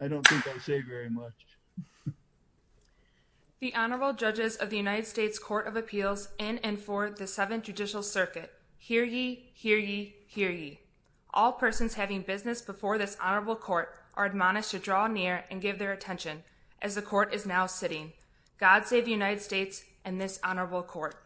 I don't think I say very much. The Honorable Judges of the United States Court of Appeals in and for the Seventh Judicial Circuit, hear ye, hear ye, hear ye. All persons having business before this Honorable Court are admonished to draw near and give their attention as the Court is now sitting. God save the United States and this Honorable Court.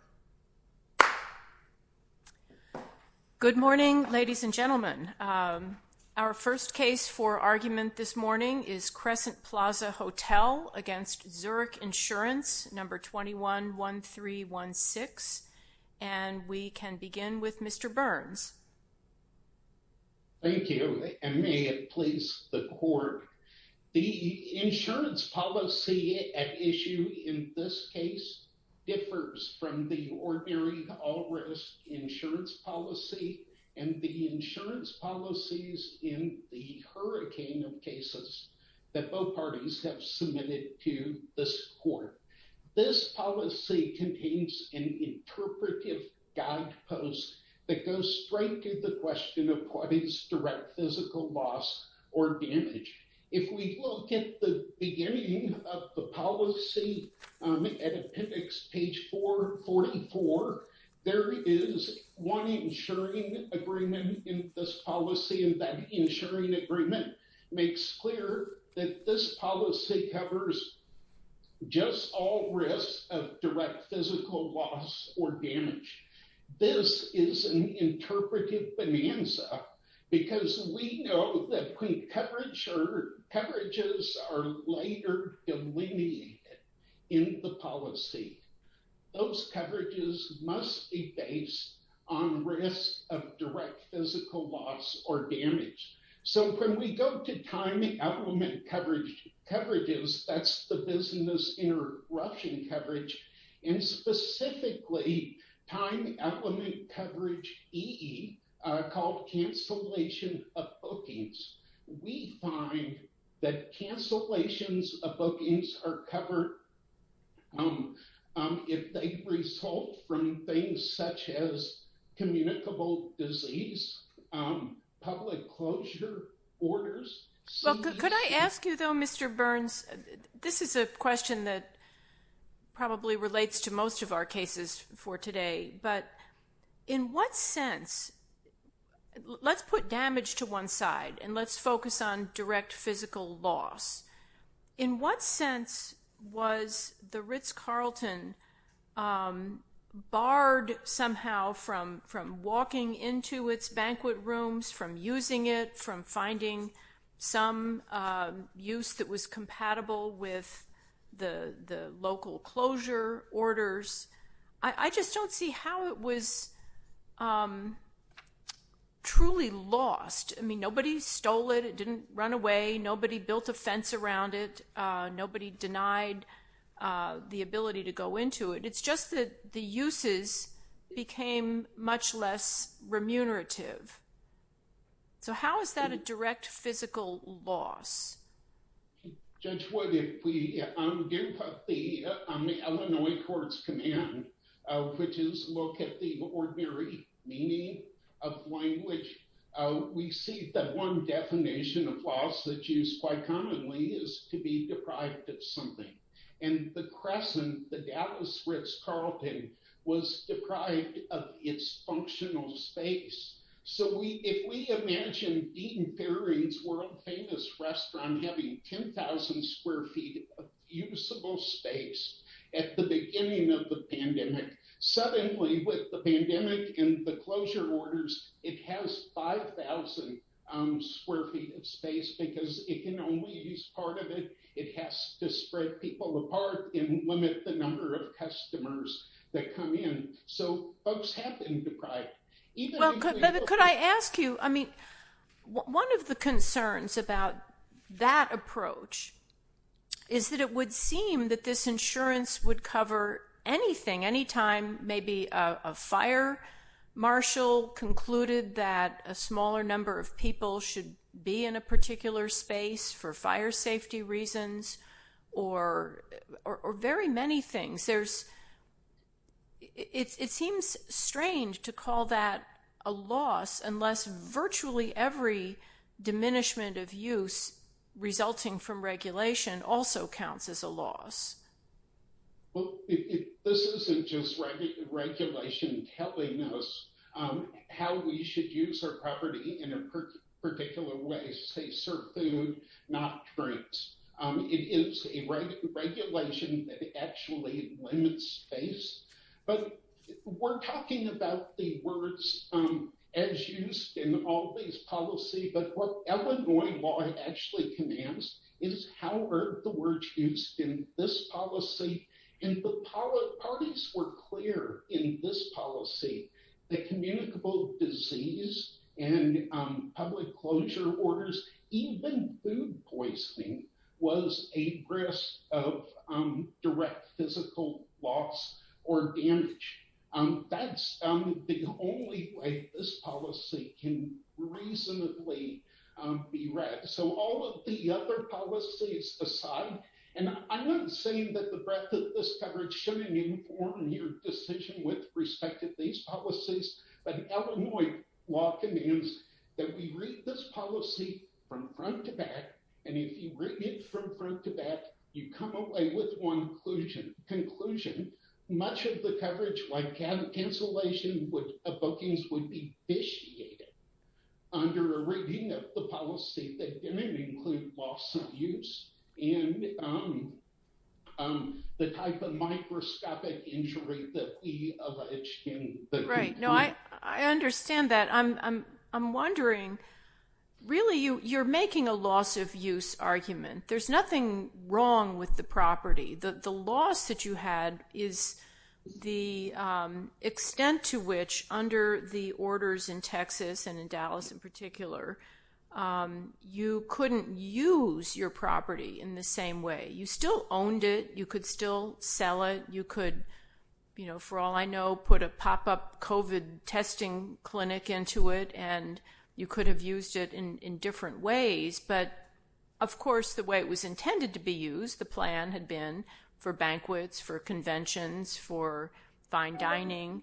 Good morning, ladies and gentlemen. Our first case for argument this morning is Crescent Plaza Hotel against Zurich Insurance, number 211316. And we can begin with Mr. Burns. Thank you, and may it please the Court. The insurance policy at issue in this case differs from the ordinary all-risk insurance policy and the insurance policies in the hurricane of cases that both parties have submitted to this Court. This policy contains an interpretive guidepost that goes straight to the question of what is direct physical loss or damage. If we look at the beginning of the policy at appendix page 444, there is one insuring agreement in this policy, and that insuring agreement makes clear that this policy covers just all risks of direct physical loss or damage. This is an interpretive bonanza because we know that when coverage or coverages are later delineated in the policy, those coverages must be based on risk of direct physical loss or damage. So when we go to time element coverages, that's the business interruption coverage, and specifically time element coverage, EE, called cancellation of bookings, we find that cancellations of bookings are covered if they result from things such as communicable disease, public closure orders. Could I ask you though, Mr. Burns, this is a question that probably relates to most of our in what sense, let's put damage to one side and let's focus on direct physical loss. In what sense was the Ritz Carlton barred somehow from walking into its banquet rooms, from using it, from finding some use that was compatible with the local closure orders? I just don't see how it was truly lost. I mean, nobody stole it, it didn't run away, nobody built a fence around it, nobody denied the ability to go into it. It's just that the uses became much less remunerative. So how is that a direct physical loss? Judge Wood, on the Illinois Courts Command, which is a look at the ordinary meaning of language, we see that one definition of loss that's used quite commonly is to be deprived of something. And the Crescent, the Dallas Ritz Carlton, was deprived of its functional space. So if we imagine Dean Fairing's world-famous restaurant having 10,000 square feet of usable space at the beginning of the pandemic, suddenly with the pandemic and the closure orders, it has 5,000 square feet of space because it can only use part of it. It has to spread people apart and limit the number of customers that come in. So folks have been deprived. Well, could I ask you, I mean, one of the concerns about that approach is that it would seem that this insurance would cover anything, anytime maybe a fire marshal concluded that a smaller number of people should be in a particular space for fire things. It seems strange to call that a loss unless virtually every diminishment of use resulting from regulation also counts as a loss. Well, this isn't just regulation telling us how we should use our property in a particular way, say, serve food, not drinks. It is a regulation that actually limits space. But we're talking about the words as used in all these policies, but what Illinois law actually commands is how are the words used in this policy? And the parties were clear in this policy that communicable disease and public closure orders, even food poisoning, was a risk of direct physical loss or damage. That's the only way this policy can reasonably be read. So all of the other policies aside, and I'm not saying that the breadth of this coverage shouldn't inform your decision with respect to these policies, but Illinois law commands that we read this policy from front to back, and if you read it from front to back, you come away with one conclusion. Much of the coverage like cancellation of bookings would be vitiated under a reading of the policy that didn't include loss of use and the type of microscopic injury that we allege in the- Right. No, I understand that. I'm wondering, really, you're making a loss of use argument. There's nothing wrong with the property. The loss that you had is the extent to which under the orders in Texas and in Dallas in particular, you couldn't use your property in the same way. You still owned it. You could still sell it. You could, for all I know, put a pop-up COVID testing clinic into it, and you could have used it in different ways. But of course, the way it was intended to be used, the plan had been for banquets, for conventions, for fine dining.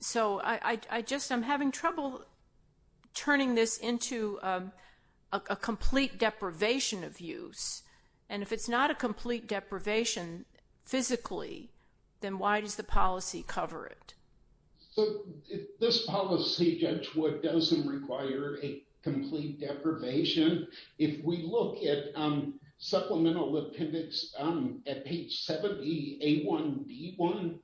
So I'm having trouble turning this into a complete deprivation of use, and if it's not a complete deprivation physically, then why does the policy cover it? So this policy, Judge Wood, doesn't require a complete deprivation. If we look at supplemental appendix at page 70, A1, B1,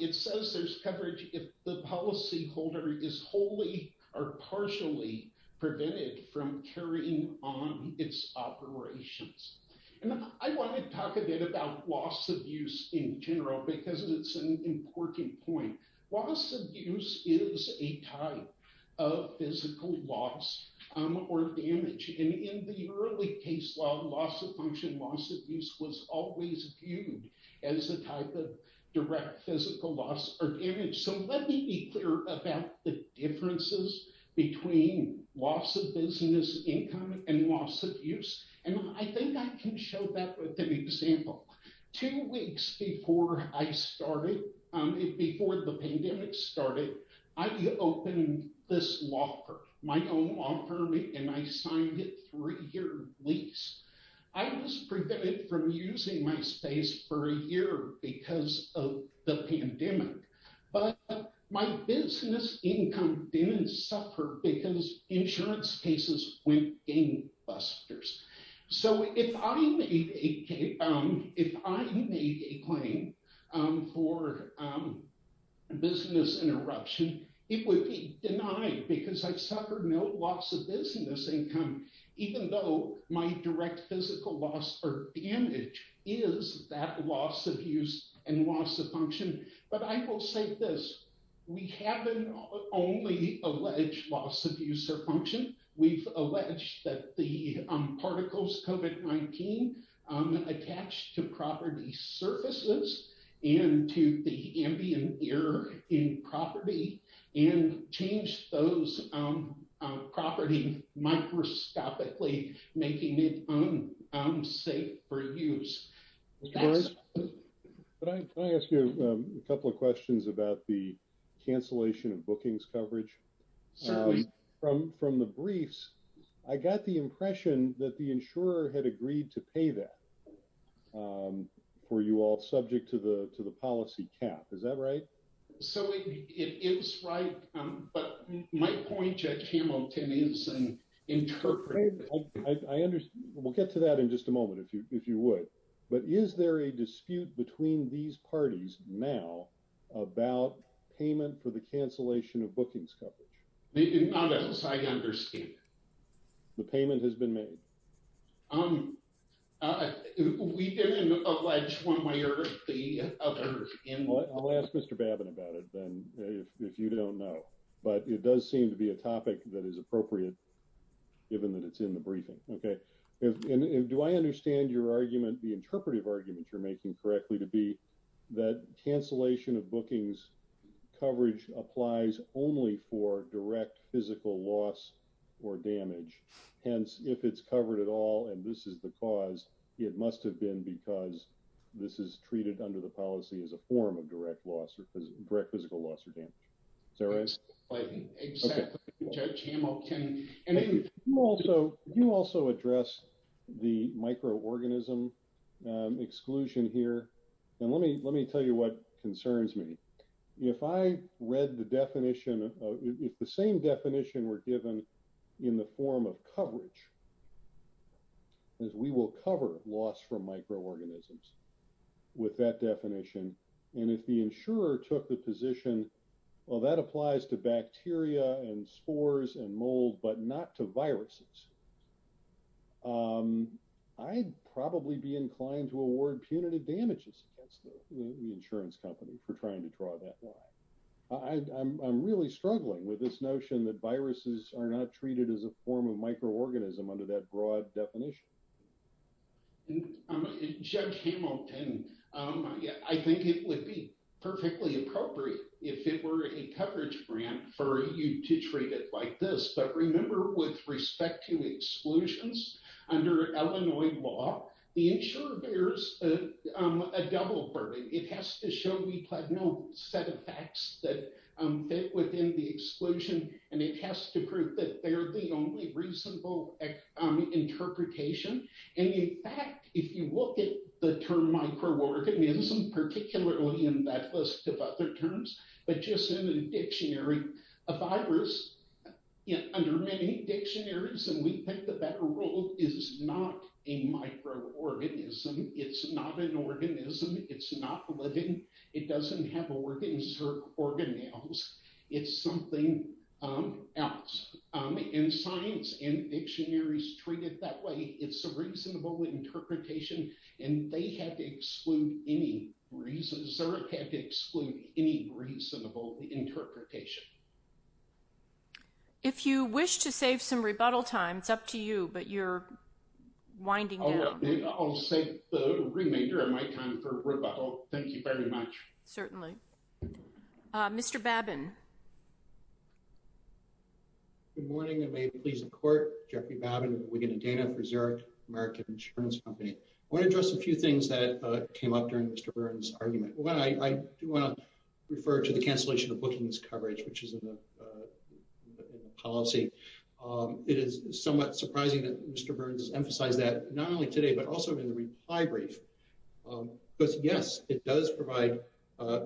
it says there's coverage if the policyholder is wholly or partially prevented from carrying on its operations. And I want to talk a bit about loss of use in general because it's an important point. Loss of use is a type of physical loss or damage, and in the early case law, loss of function, loss of use was always viewed as a type of direct physical loss or damage. So let me be clear about the differences between loss of business income and loss of use, and I think I can show that with an example. Two weeks before I started, before the pandemic started, I opened this law firm, my own law firm, and I signed a three-year lease. I was prevented from using my space for a year because of the pandemic, but my business income didn't suffer because insurance cases went gangbusters. So if I made a claim for business interruption, it would be denied because I suffered no loss of business income, even though my direct physical loss or damage is that loss of use and loss of function. But I will say this, we haven't only alleged loss of use or function, we've alleged that the particles COVID-19 attached to property surfaces and to the ambient air in property and changed those property microscopically, making it unsafe for use. Can I ask you a couple of questions about the cancellation of bookings coverage from the briefs? I got the impression that the insurer had agreed to pay that. Were you all subject to the policy cap? Is that right? So it is right, but my point, Judge Hamilton, is interpreting it. We'll get to that in just a moment, if you would. But is there a dispute between these parties now about payment for the cancellation of bookings coverage? There is not, I understand. The payment has been made? We didn't allege one way or the other. I'll ask Mr. Babin about it then, if you don't know. But it does seem to be a topic that is appropriate, given that it's in the briefing. Do I understand your argument, the interpretive argument you're making correctly, to be that cancellation of bookings coverage applies only for direct physical loss or damage? Hence, if it's covered at all, and this is the cause, it must have been because this is treated under the policy as a form of direct physical loss or damage. Is that right? Exactly, Judge Hamilton. Can you also address the microorganism exclusion here? And let me tell you what concerns me. If I read the definition, if the same definition were given in the form of coverage, we will cover loss from microorganisms with that definition. And if the insurer took the position, well, that applies to bacteria and spores and mold, but not to viruses. I'd probably be inclined to award punitive damages to the insurance company for trying to draw that line. I'm really struggling with this notion that viruses are not treated as a form of microorganism under that broad definition. And Judge Hamilton, I think it would be perfectly appropriate if it were a coverage grant for you to treat it like this. But remember, with respect to exclusions, under Illinois law, the insurer bears a double burden. It has to show we have no set of facts that fit within the interpretation. And in fact, if you look at the term microorganism, particularly in that list of other terms, but just in a dictionary, a virus, under many dictionaries, and we think the better rule, is not a microorganism. It's not an organism. It's not living. It doesn't have organs or it's a reasonable interpretation. And they have to exclude any reasons or have to exclude any reasonable interpretation. If you wish to save some rebuttal time, it's up to you, but you're winding down. I'll save the remainder of my time for rebuttal. Thank you very much. Certainly. Mr. Babin. Good morning, and may it please the court. Jeffrey Babin, Wigan and Dana Preserve, American Insurance Company. I want to address a few things that came up during Mr. Burns' argument. I do want to refer to the cancellation of bookings coverage, which is in the policy. It is somewhat surprising that Mr. Burns emphasized that not only today, but also in the reply brief. Because yes, it does provide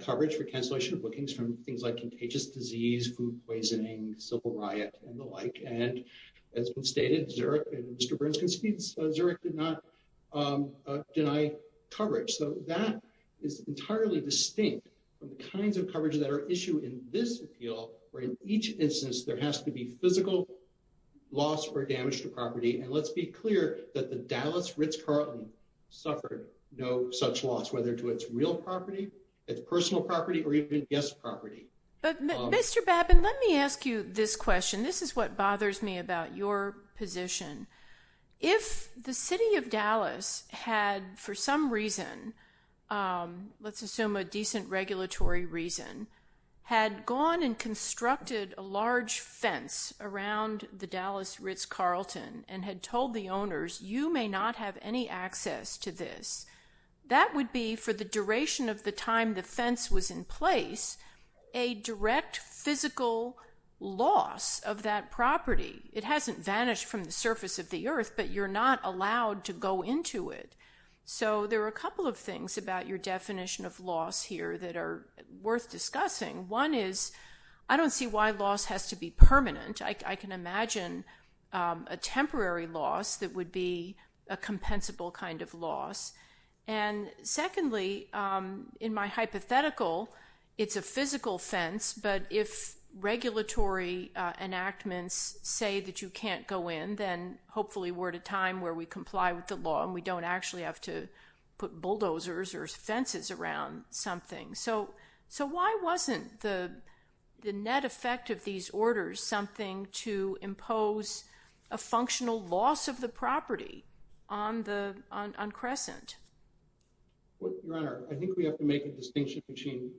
coverage for cancellation of bookings from things like contagious disease, food poisoning, civil riot, and the like. And as was stated, Zurich, and Mr. Burns concedes, Zurich did not deny coverage. So that is entirely distinct from the kinds of coverage that are issued in this appeal, where in each instance, there has to be physical loss or damage to property. And let's be clear that the Dallas Ritz Carlton suffered no such loss, whether to its real property, its personal property, or even guest property. Mr. Babin, let me ask you this question. This is what bothers me about your position. If the city of Dallas had for some reason, let's assume a decent regulatory reason, had gone and constructed a large fence around the Dallas Ritz Carlton and had told the owners, you may not have any access to this. That would be for the duration of the time the fence was in place, a direct physical loss of that property. It hasn't vanished from the surface of the earth, but you're not allowed to go into it. So there are a couple of things about your definition of loss here that are worth discussing. One is, I don't see why loss has to be permanent. I can imagine a temporary loss that would be a compensable kind of loss. And secondly, in my hypothetical, it's a physical fence, but if regulatory enactments say that you can't go in, then hopefully we're at a time where we comply with the law and we don't actually have to put bulldozers or fences around something. So why wasn't the net effect of these orders something to impose a functional loss of the property on Crescent? Your Honor, I think we have to make a distinction between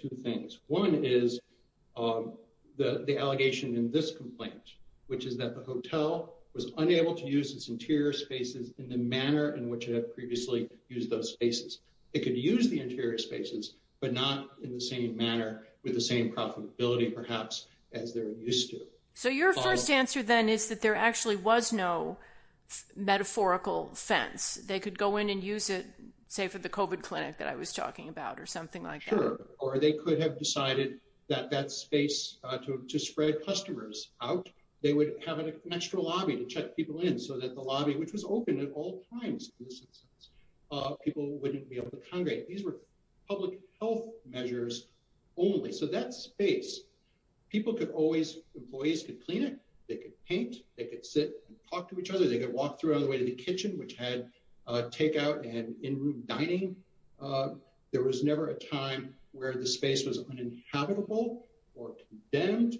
two things. One is the allegation in this complaint, which is that the hotel was unable to use its interior spaces in the manner in which it had previously used those spaces. It could use the interior spaces, but not in the same manner with the same profitability perhaps as they're used to. So your first answer then is that there actually was no metaphorical fence. They could go in and use it, say for the COVID clinic that I was talking about or something like that. Or they could have decided that that space to spread customers out, they would have an extra lobby to check people in so that the lobby, which was open at all times, people wouldn't be able to congregate. These were public health measures only. So that space, people could always, employees could clean it, they could paint, they could sit and talk to each other, they could walk through all the way to the kitchen, which had takeout and in-room dining. There was never a time where the space was uninhabitable or condemned.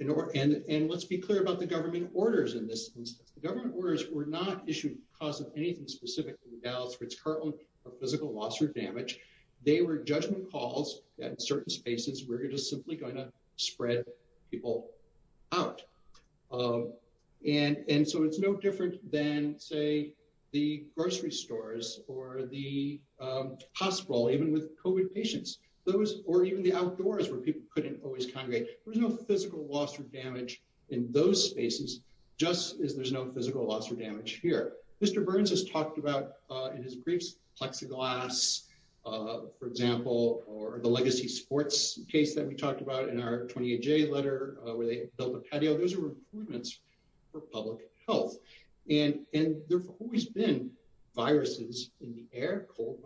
And let's be clear the government orders in this instance. The government orders were not issued because of anything specific to the Dallas-Fritz Cartland or physical loss or damage. They were judgment calls that certain spaces were just simply going to spread people out. And so it's no different than say the grocery stores or the hospital, even with COVID patients, or even the outdoors where people couldn't always congregate. There's no physical loss or damage in those spaces, just as there's no physical loss or damage here. Mr. Burns has talked about in his briefs, plexiglass, for example, or the legacy sports case that we talked about in our 28J letter where they built a patio. Those are improvements for public health. And there's always been viruses in the air, cold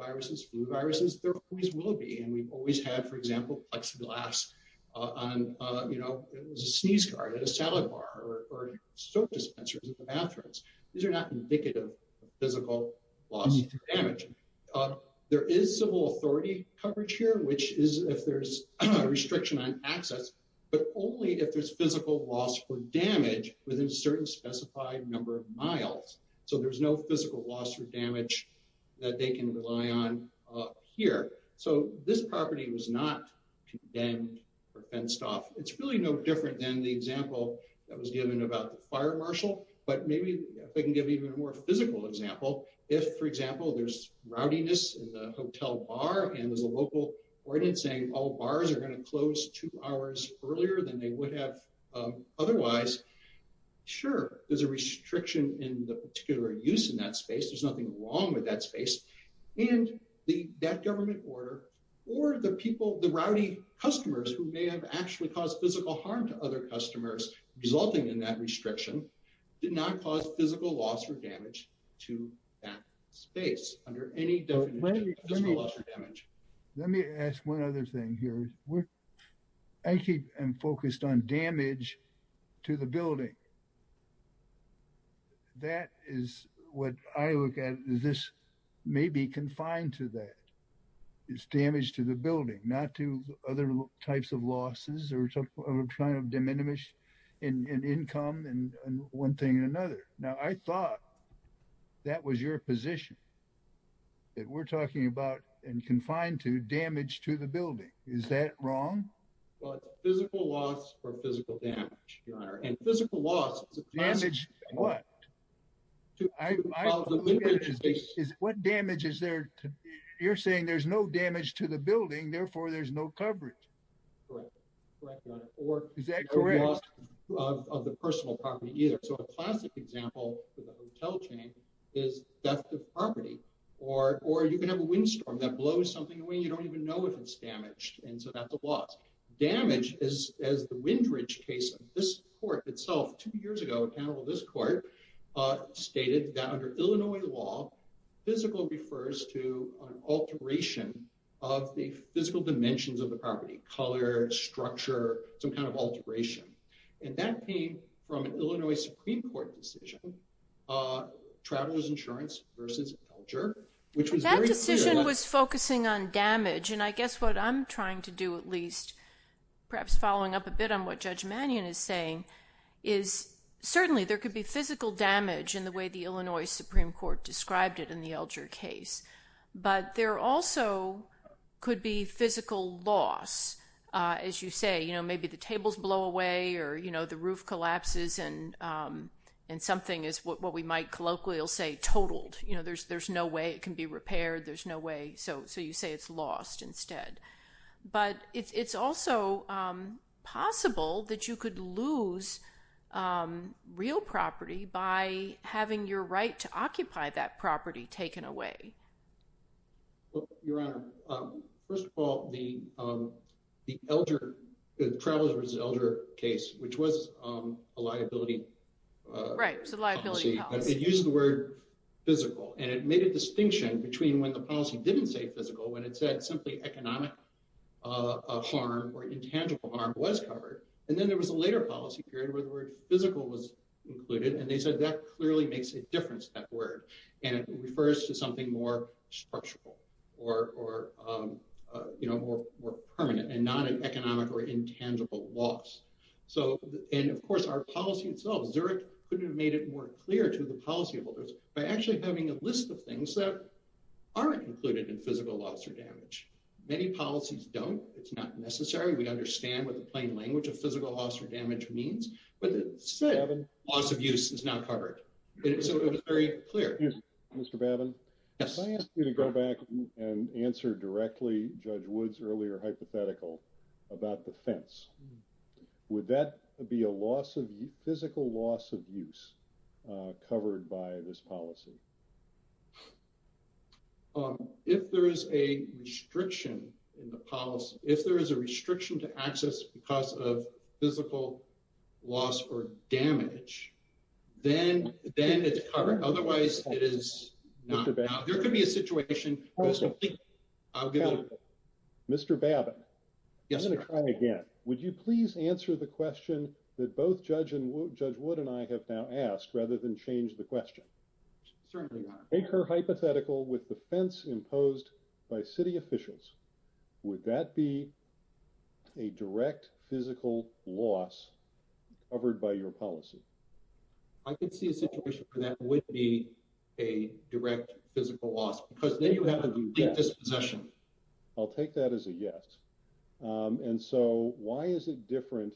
glass, you know, a sneeze card at a salad bar or soap dispensers in the bathrooms. These are not indicative of physical loss or damage. There is civil authority coverage here, which is if there's a restriction on access, but only if there's physical loss or damage within a certain specified number of miles. So there's no physical loss or damage that they can rely on here. So this property was not condemned or fenced off. It's really no different than the example that was given about the fire marshal, but maybe if I can give even a more physical example, if, for example, there's rowdiness in the hotel bar and there's a local ordinance saying all bars are going to close two hours earlier than they would have otherwise, sure, there's a restriction in the particular use of that space. There's nothing wrong with that space. And that government order or the people, the rowdy customers who may have actually caused physical harm to other customers resulting in that restriction did not cause physical loss or damage to that space under any definition of physical loss or damage. Let me ask one other thing here. I keep focused on damage to the building. That is what I look at. This may be confined to that. It's damage to the building, not to other types of losses or some kind of diminishing in income and one thing or another. Now, I thought that was your position, that we're talking about and confined to damage to the building. Is that wrong? Well, physical loss or physical damage, your honor. And physical loss is a classic example. Damage what? What damage is there? You're saying there's no damage to the building, therefore there's no coverage. Correct. Is that correct? Or loss of the personal property either. So a classic example for the hotel chain is death of property or you can have a windstorm that damage is as the Windridge case. This court itself two years ago, this court stated that under Illinois law, physical refers to an alteration of the physical dimensions of the property, color, structure, some kind of alteration. And that came from an Illinois Supreme Court decision, travelers insurance versus culture. That decision was focusing on damage and I guess what I'm trying to do at least, perhaps following up a bit on what Judge Mannion is saying, is certainly there could be physical damage in the way the Illinois Supreme Court described it in the Alger case, but there also could be physical loss. As you say, maybe the tables blow away or the roof collapses and something is what we might colloquially say, totaled. There's no way it can be repaired. There's no way. So you say it's lost instead, but it's also possible that you could lose real property by having your right to occupy that property taken away. Your Honor, first of all, the elder travelers elder case, which was a liability. Right. So liability policy, but it uses the word physical and it made a distinction between when the policy didn't say physical, when it said simply economic harm or intangible harm was covered. And then there was a later policy period where the word physical was included. And they said that clearly makes a difference, that word. And it refers to something more structural or you know, more permanent and not an economic or intangible loss. So, and of course our policy itself, Zurich couldn't have made it more clear to the policyholders by actually having a list of things that aren't included in physical loss or damage. Many policies don't, it's not necessary. We understand what the plain language of physical loss or damage means, but it said loss of use is covered. So it was very clear. Mr. Babin, if I asked you to go back and answer directly Judge Wood's earlier hypothetical about the fence, would that be a loss of physical loss of use covered by this policy? If there is a restriction in the policy, if there is a restriction to access because of physical loss or damage, then it's covered. Otherwise it is not. There could be a situation. I'll give it a go. Mr. Babin. Yes, sir. I'm going to try again. Would you please answer the question that both Judge Wood and I have now asked rather than change the question? Certainly not. Take her hypothetical with the fence imposed by city officials. Would that be a direct physical loss covered by your policy? I could see a situation where that would be a direct physical loss because then you have a complete dispossession. I'll take that as a yes. And so why is it different?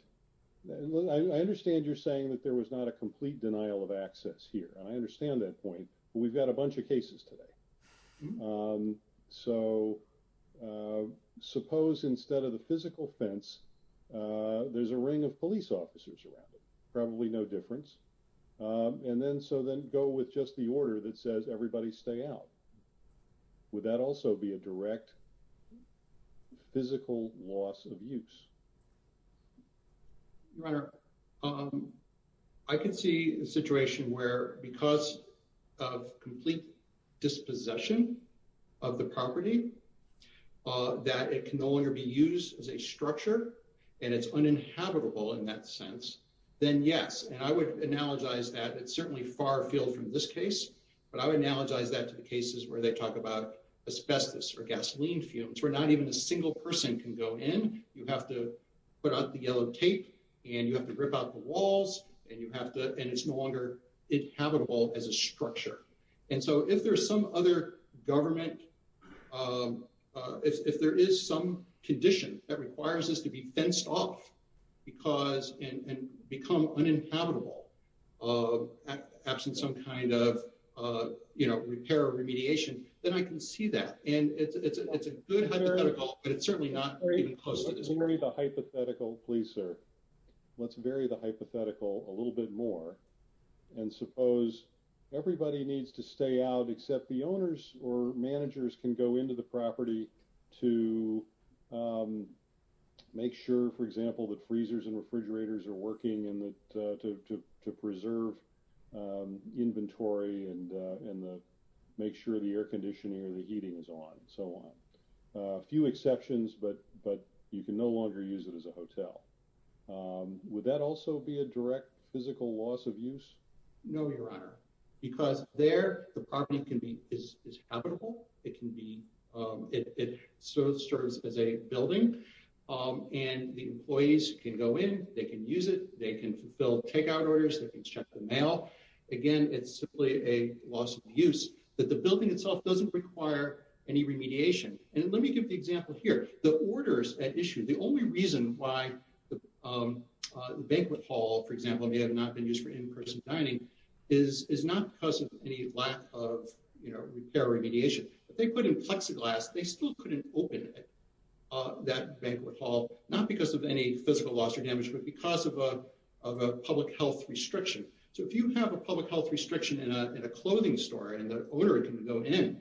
I understand you're saying that there was not a complete denial of access here. I understand that point. We've got a bunch of cases today. So suppose instead of the physical fence, there's a ring of police officers around it. Probably no difference. And then so then go with just the order that says everybody stay out. Would that also be a direct physical loss of use? Your Honor, I can see a situation where because of complete dispossession of the property that it can no longer be used as a structure and it's uninhabitable in that sense, then yes. And I would analogize that it's certainly far afield from this case, but I would analogize that to the cases where they talk about asbestos or gasoline fumes where not even a single person can go in. You have to put out the yellow tape and you have to rip out the walls and you have to, and it's no longer inhabitable as a structure. And so if there's some other government, if there is some condition that requires us to be fenced off because and become uninhabitable absent some kind of repair or remediation, then I can see that. And it's a good hypothetical, but it's certainly not even close to this. Let's vary the hypothetical, please, sir. Let's vary the hypothetical a little bit more. And suppose everybody needs to stay out except the owners or managers can go into the property to make sure, for example, that freezers and refrigerators are working and to preserve inventory and make sure the air conditioning and the heating is on and so on. A few exceptions, but you can no longer use it as a hotel. Would that also be a direct physical loss of use? No, Your Honor, because there the property is habitable. It serves as a building and the employees can go in, they can use it, they can fill takeout orders, they can check the mail. Again, it's simply a loss of use. That the building itself doesn't require any remediation. And let me give the example here. The orders at issue, the only reason why the banquet hall, for example, may have not been used for in-person dining is not because of any lack of repair or remediation. If they put in plexiglass, they still couldn't open that banquet hall, not because of any physical loss or damage, but because of a public health restriction. So if you have a public health restriction in a clothing store and the owner can go in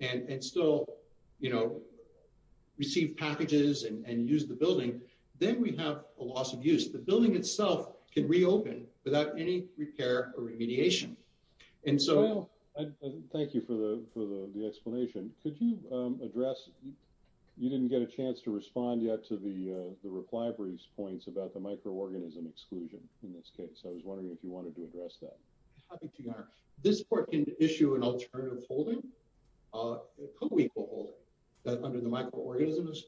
and still, you know, receive packages and use the building, then we have a loss of use. The building itself can reopen without any repair or remediation. Thank you for the explanation. Could you address, you didn't get a chance to respond yet to the reply for these points about the microorganism exclusion in this case. I was wondering if you could address that. This court can issue an alternative holding, a co-equal holding, that under the microorganisms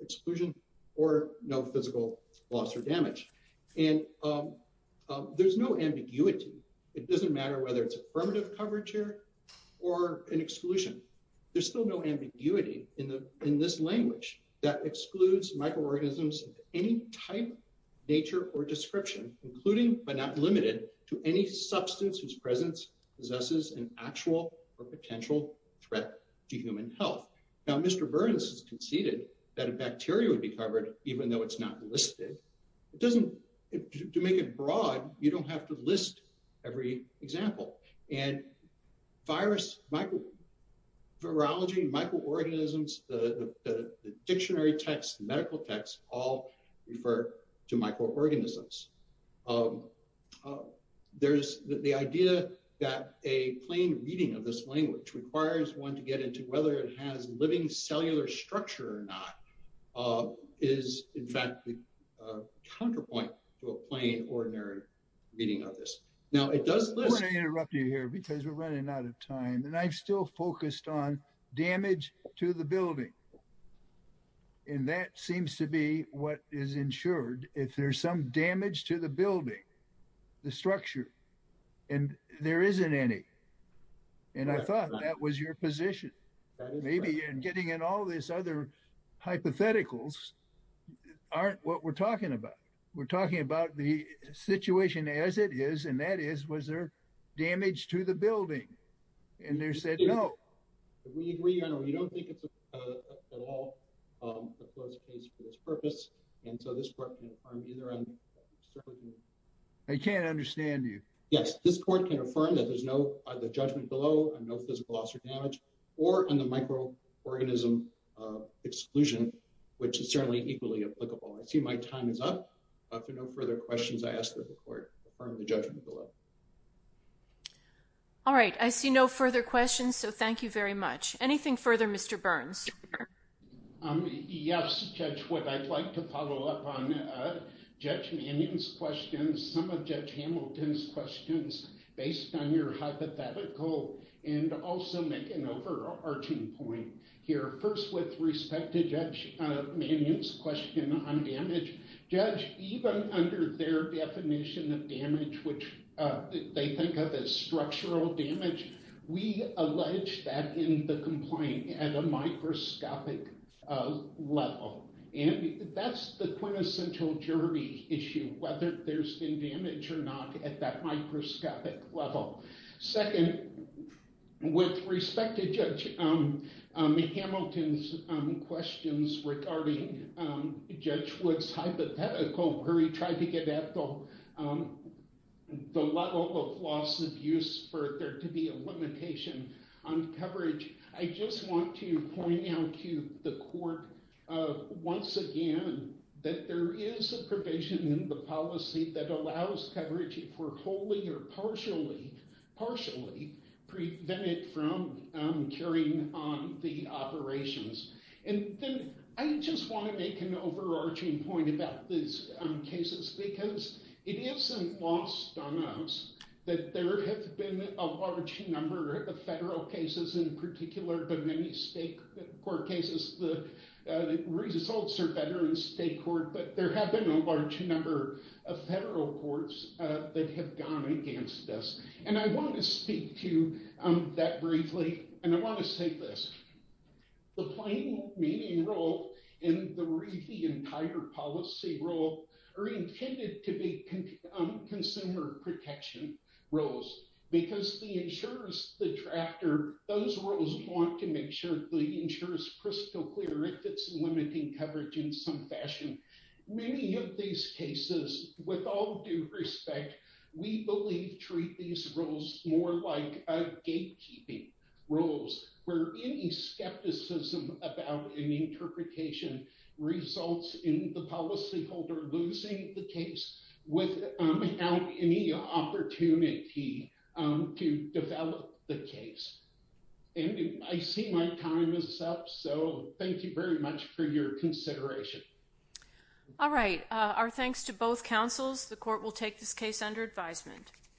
exclusion or no physical loss or damage. And there's no ambiguity. It doesn't matter whether it's affirmative coverage here or an exclusion. There's still no ambiguity in this language that excludes microorganisms of any type, nature, or description, including but not limited to any substance whose presence possesses an actual or potential threat to human health. Now, Mr. Burns has conceded that a bacteria would be covered even though it's not listed. It doesn't, to make it broad, you don't have to list every example. And virus, virology, microorganisms, the dictionary text, the medical text, all refer to microorganisms. There's the idea that a plain reading of this language requires one to get into whether it has living cellular structure or not is, in fact, the counterpoint to a plain ordinary reading of this. Now, it does- I'm going to interrupt you here because we're running out of time. And I'm still focused on damage to the building. And that seems to be what is ensured. If there's some damage to the building, the structure, and there isn't any. And I thought that was your position. Maybe getting in all this other hypotheticals aren't what we're talking about. We're talking about the situation as it is. And that is, was there damage to the building? And they said no. We agree on it. We don't think it's at all a closed case for this purpose. And so this court can affirm either on- I can't understand you. Yes. This court can affirm that there's no judgment below and no physical loss or damage or on the microorganism exclusion, which is certainly equally applicable. I see my time is up. If there are no further questions, I ask that the court affirm the judgment below. All right. I see no further questions. So thank you very much. Anything further, Mr. Burns? Yes, Judge Wood. I'd like to follow up on Judge Manion's questions, some of Judge Hamilton's questions based on your hypothetical and also make an overarching point here. First, with respect to Judge Manion's question on damage, Judge, even under their definition of damage, which they think of as structural damage, we allege that in the complaint at a microscopic level. And that's the quintessential jury issue, whether there's been damage or not at that microscopic level. Second, with respect to Judge Hamilton's questions regarding Judge Wood's hypothetical where he tried to get at the level of loss of use for there to be a limitation on coverage, I just want to point out to the court once again that there is a provision in the policy that allows coverage, if we're wholly or partially, partially prevented from carrying on the operations. And then I just want to make an overarching point about these cases because it isn't lost on us that there have been a large number of federal cases in particular, but many state court cases, the results are better in state court, but there have been a large number of federal courts that have gone against this. And I want to speak to that briefly, and I want to say this. The plain meaning role in the entire policy role are intended to be consumer protection roles because the insurers, the drafter, those roles want to make sure the cases, with all due respect, we believe treat these roles more like gatekeeping roles where any skepticism about an interpretation results in the policyholder losing the case without any opportunity to develop the case. And I see my time is up, so thank you very much for your time. Thanks to both councils. The court will take this case under advisement.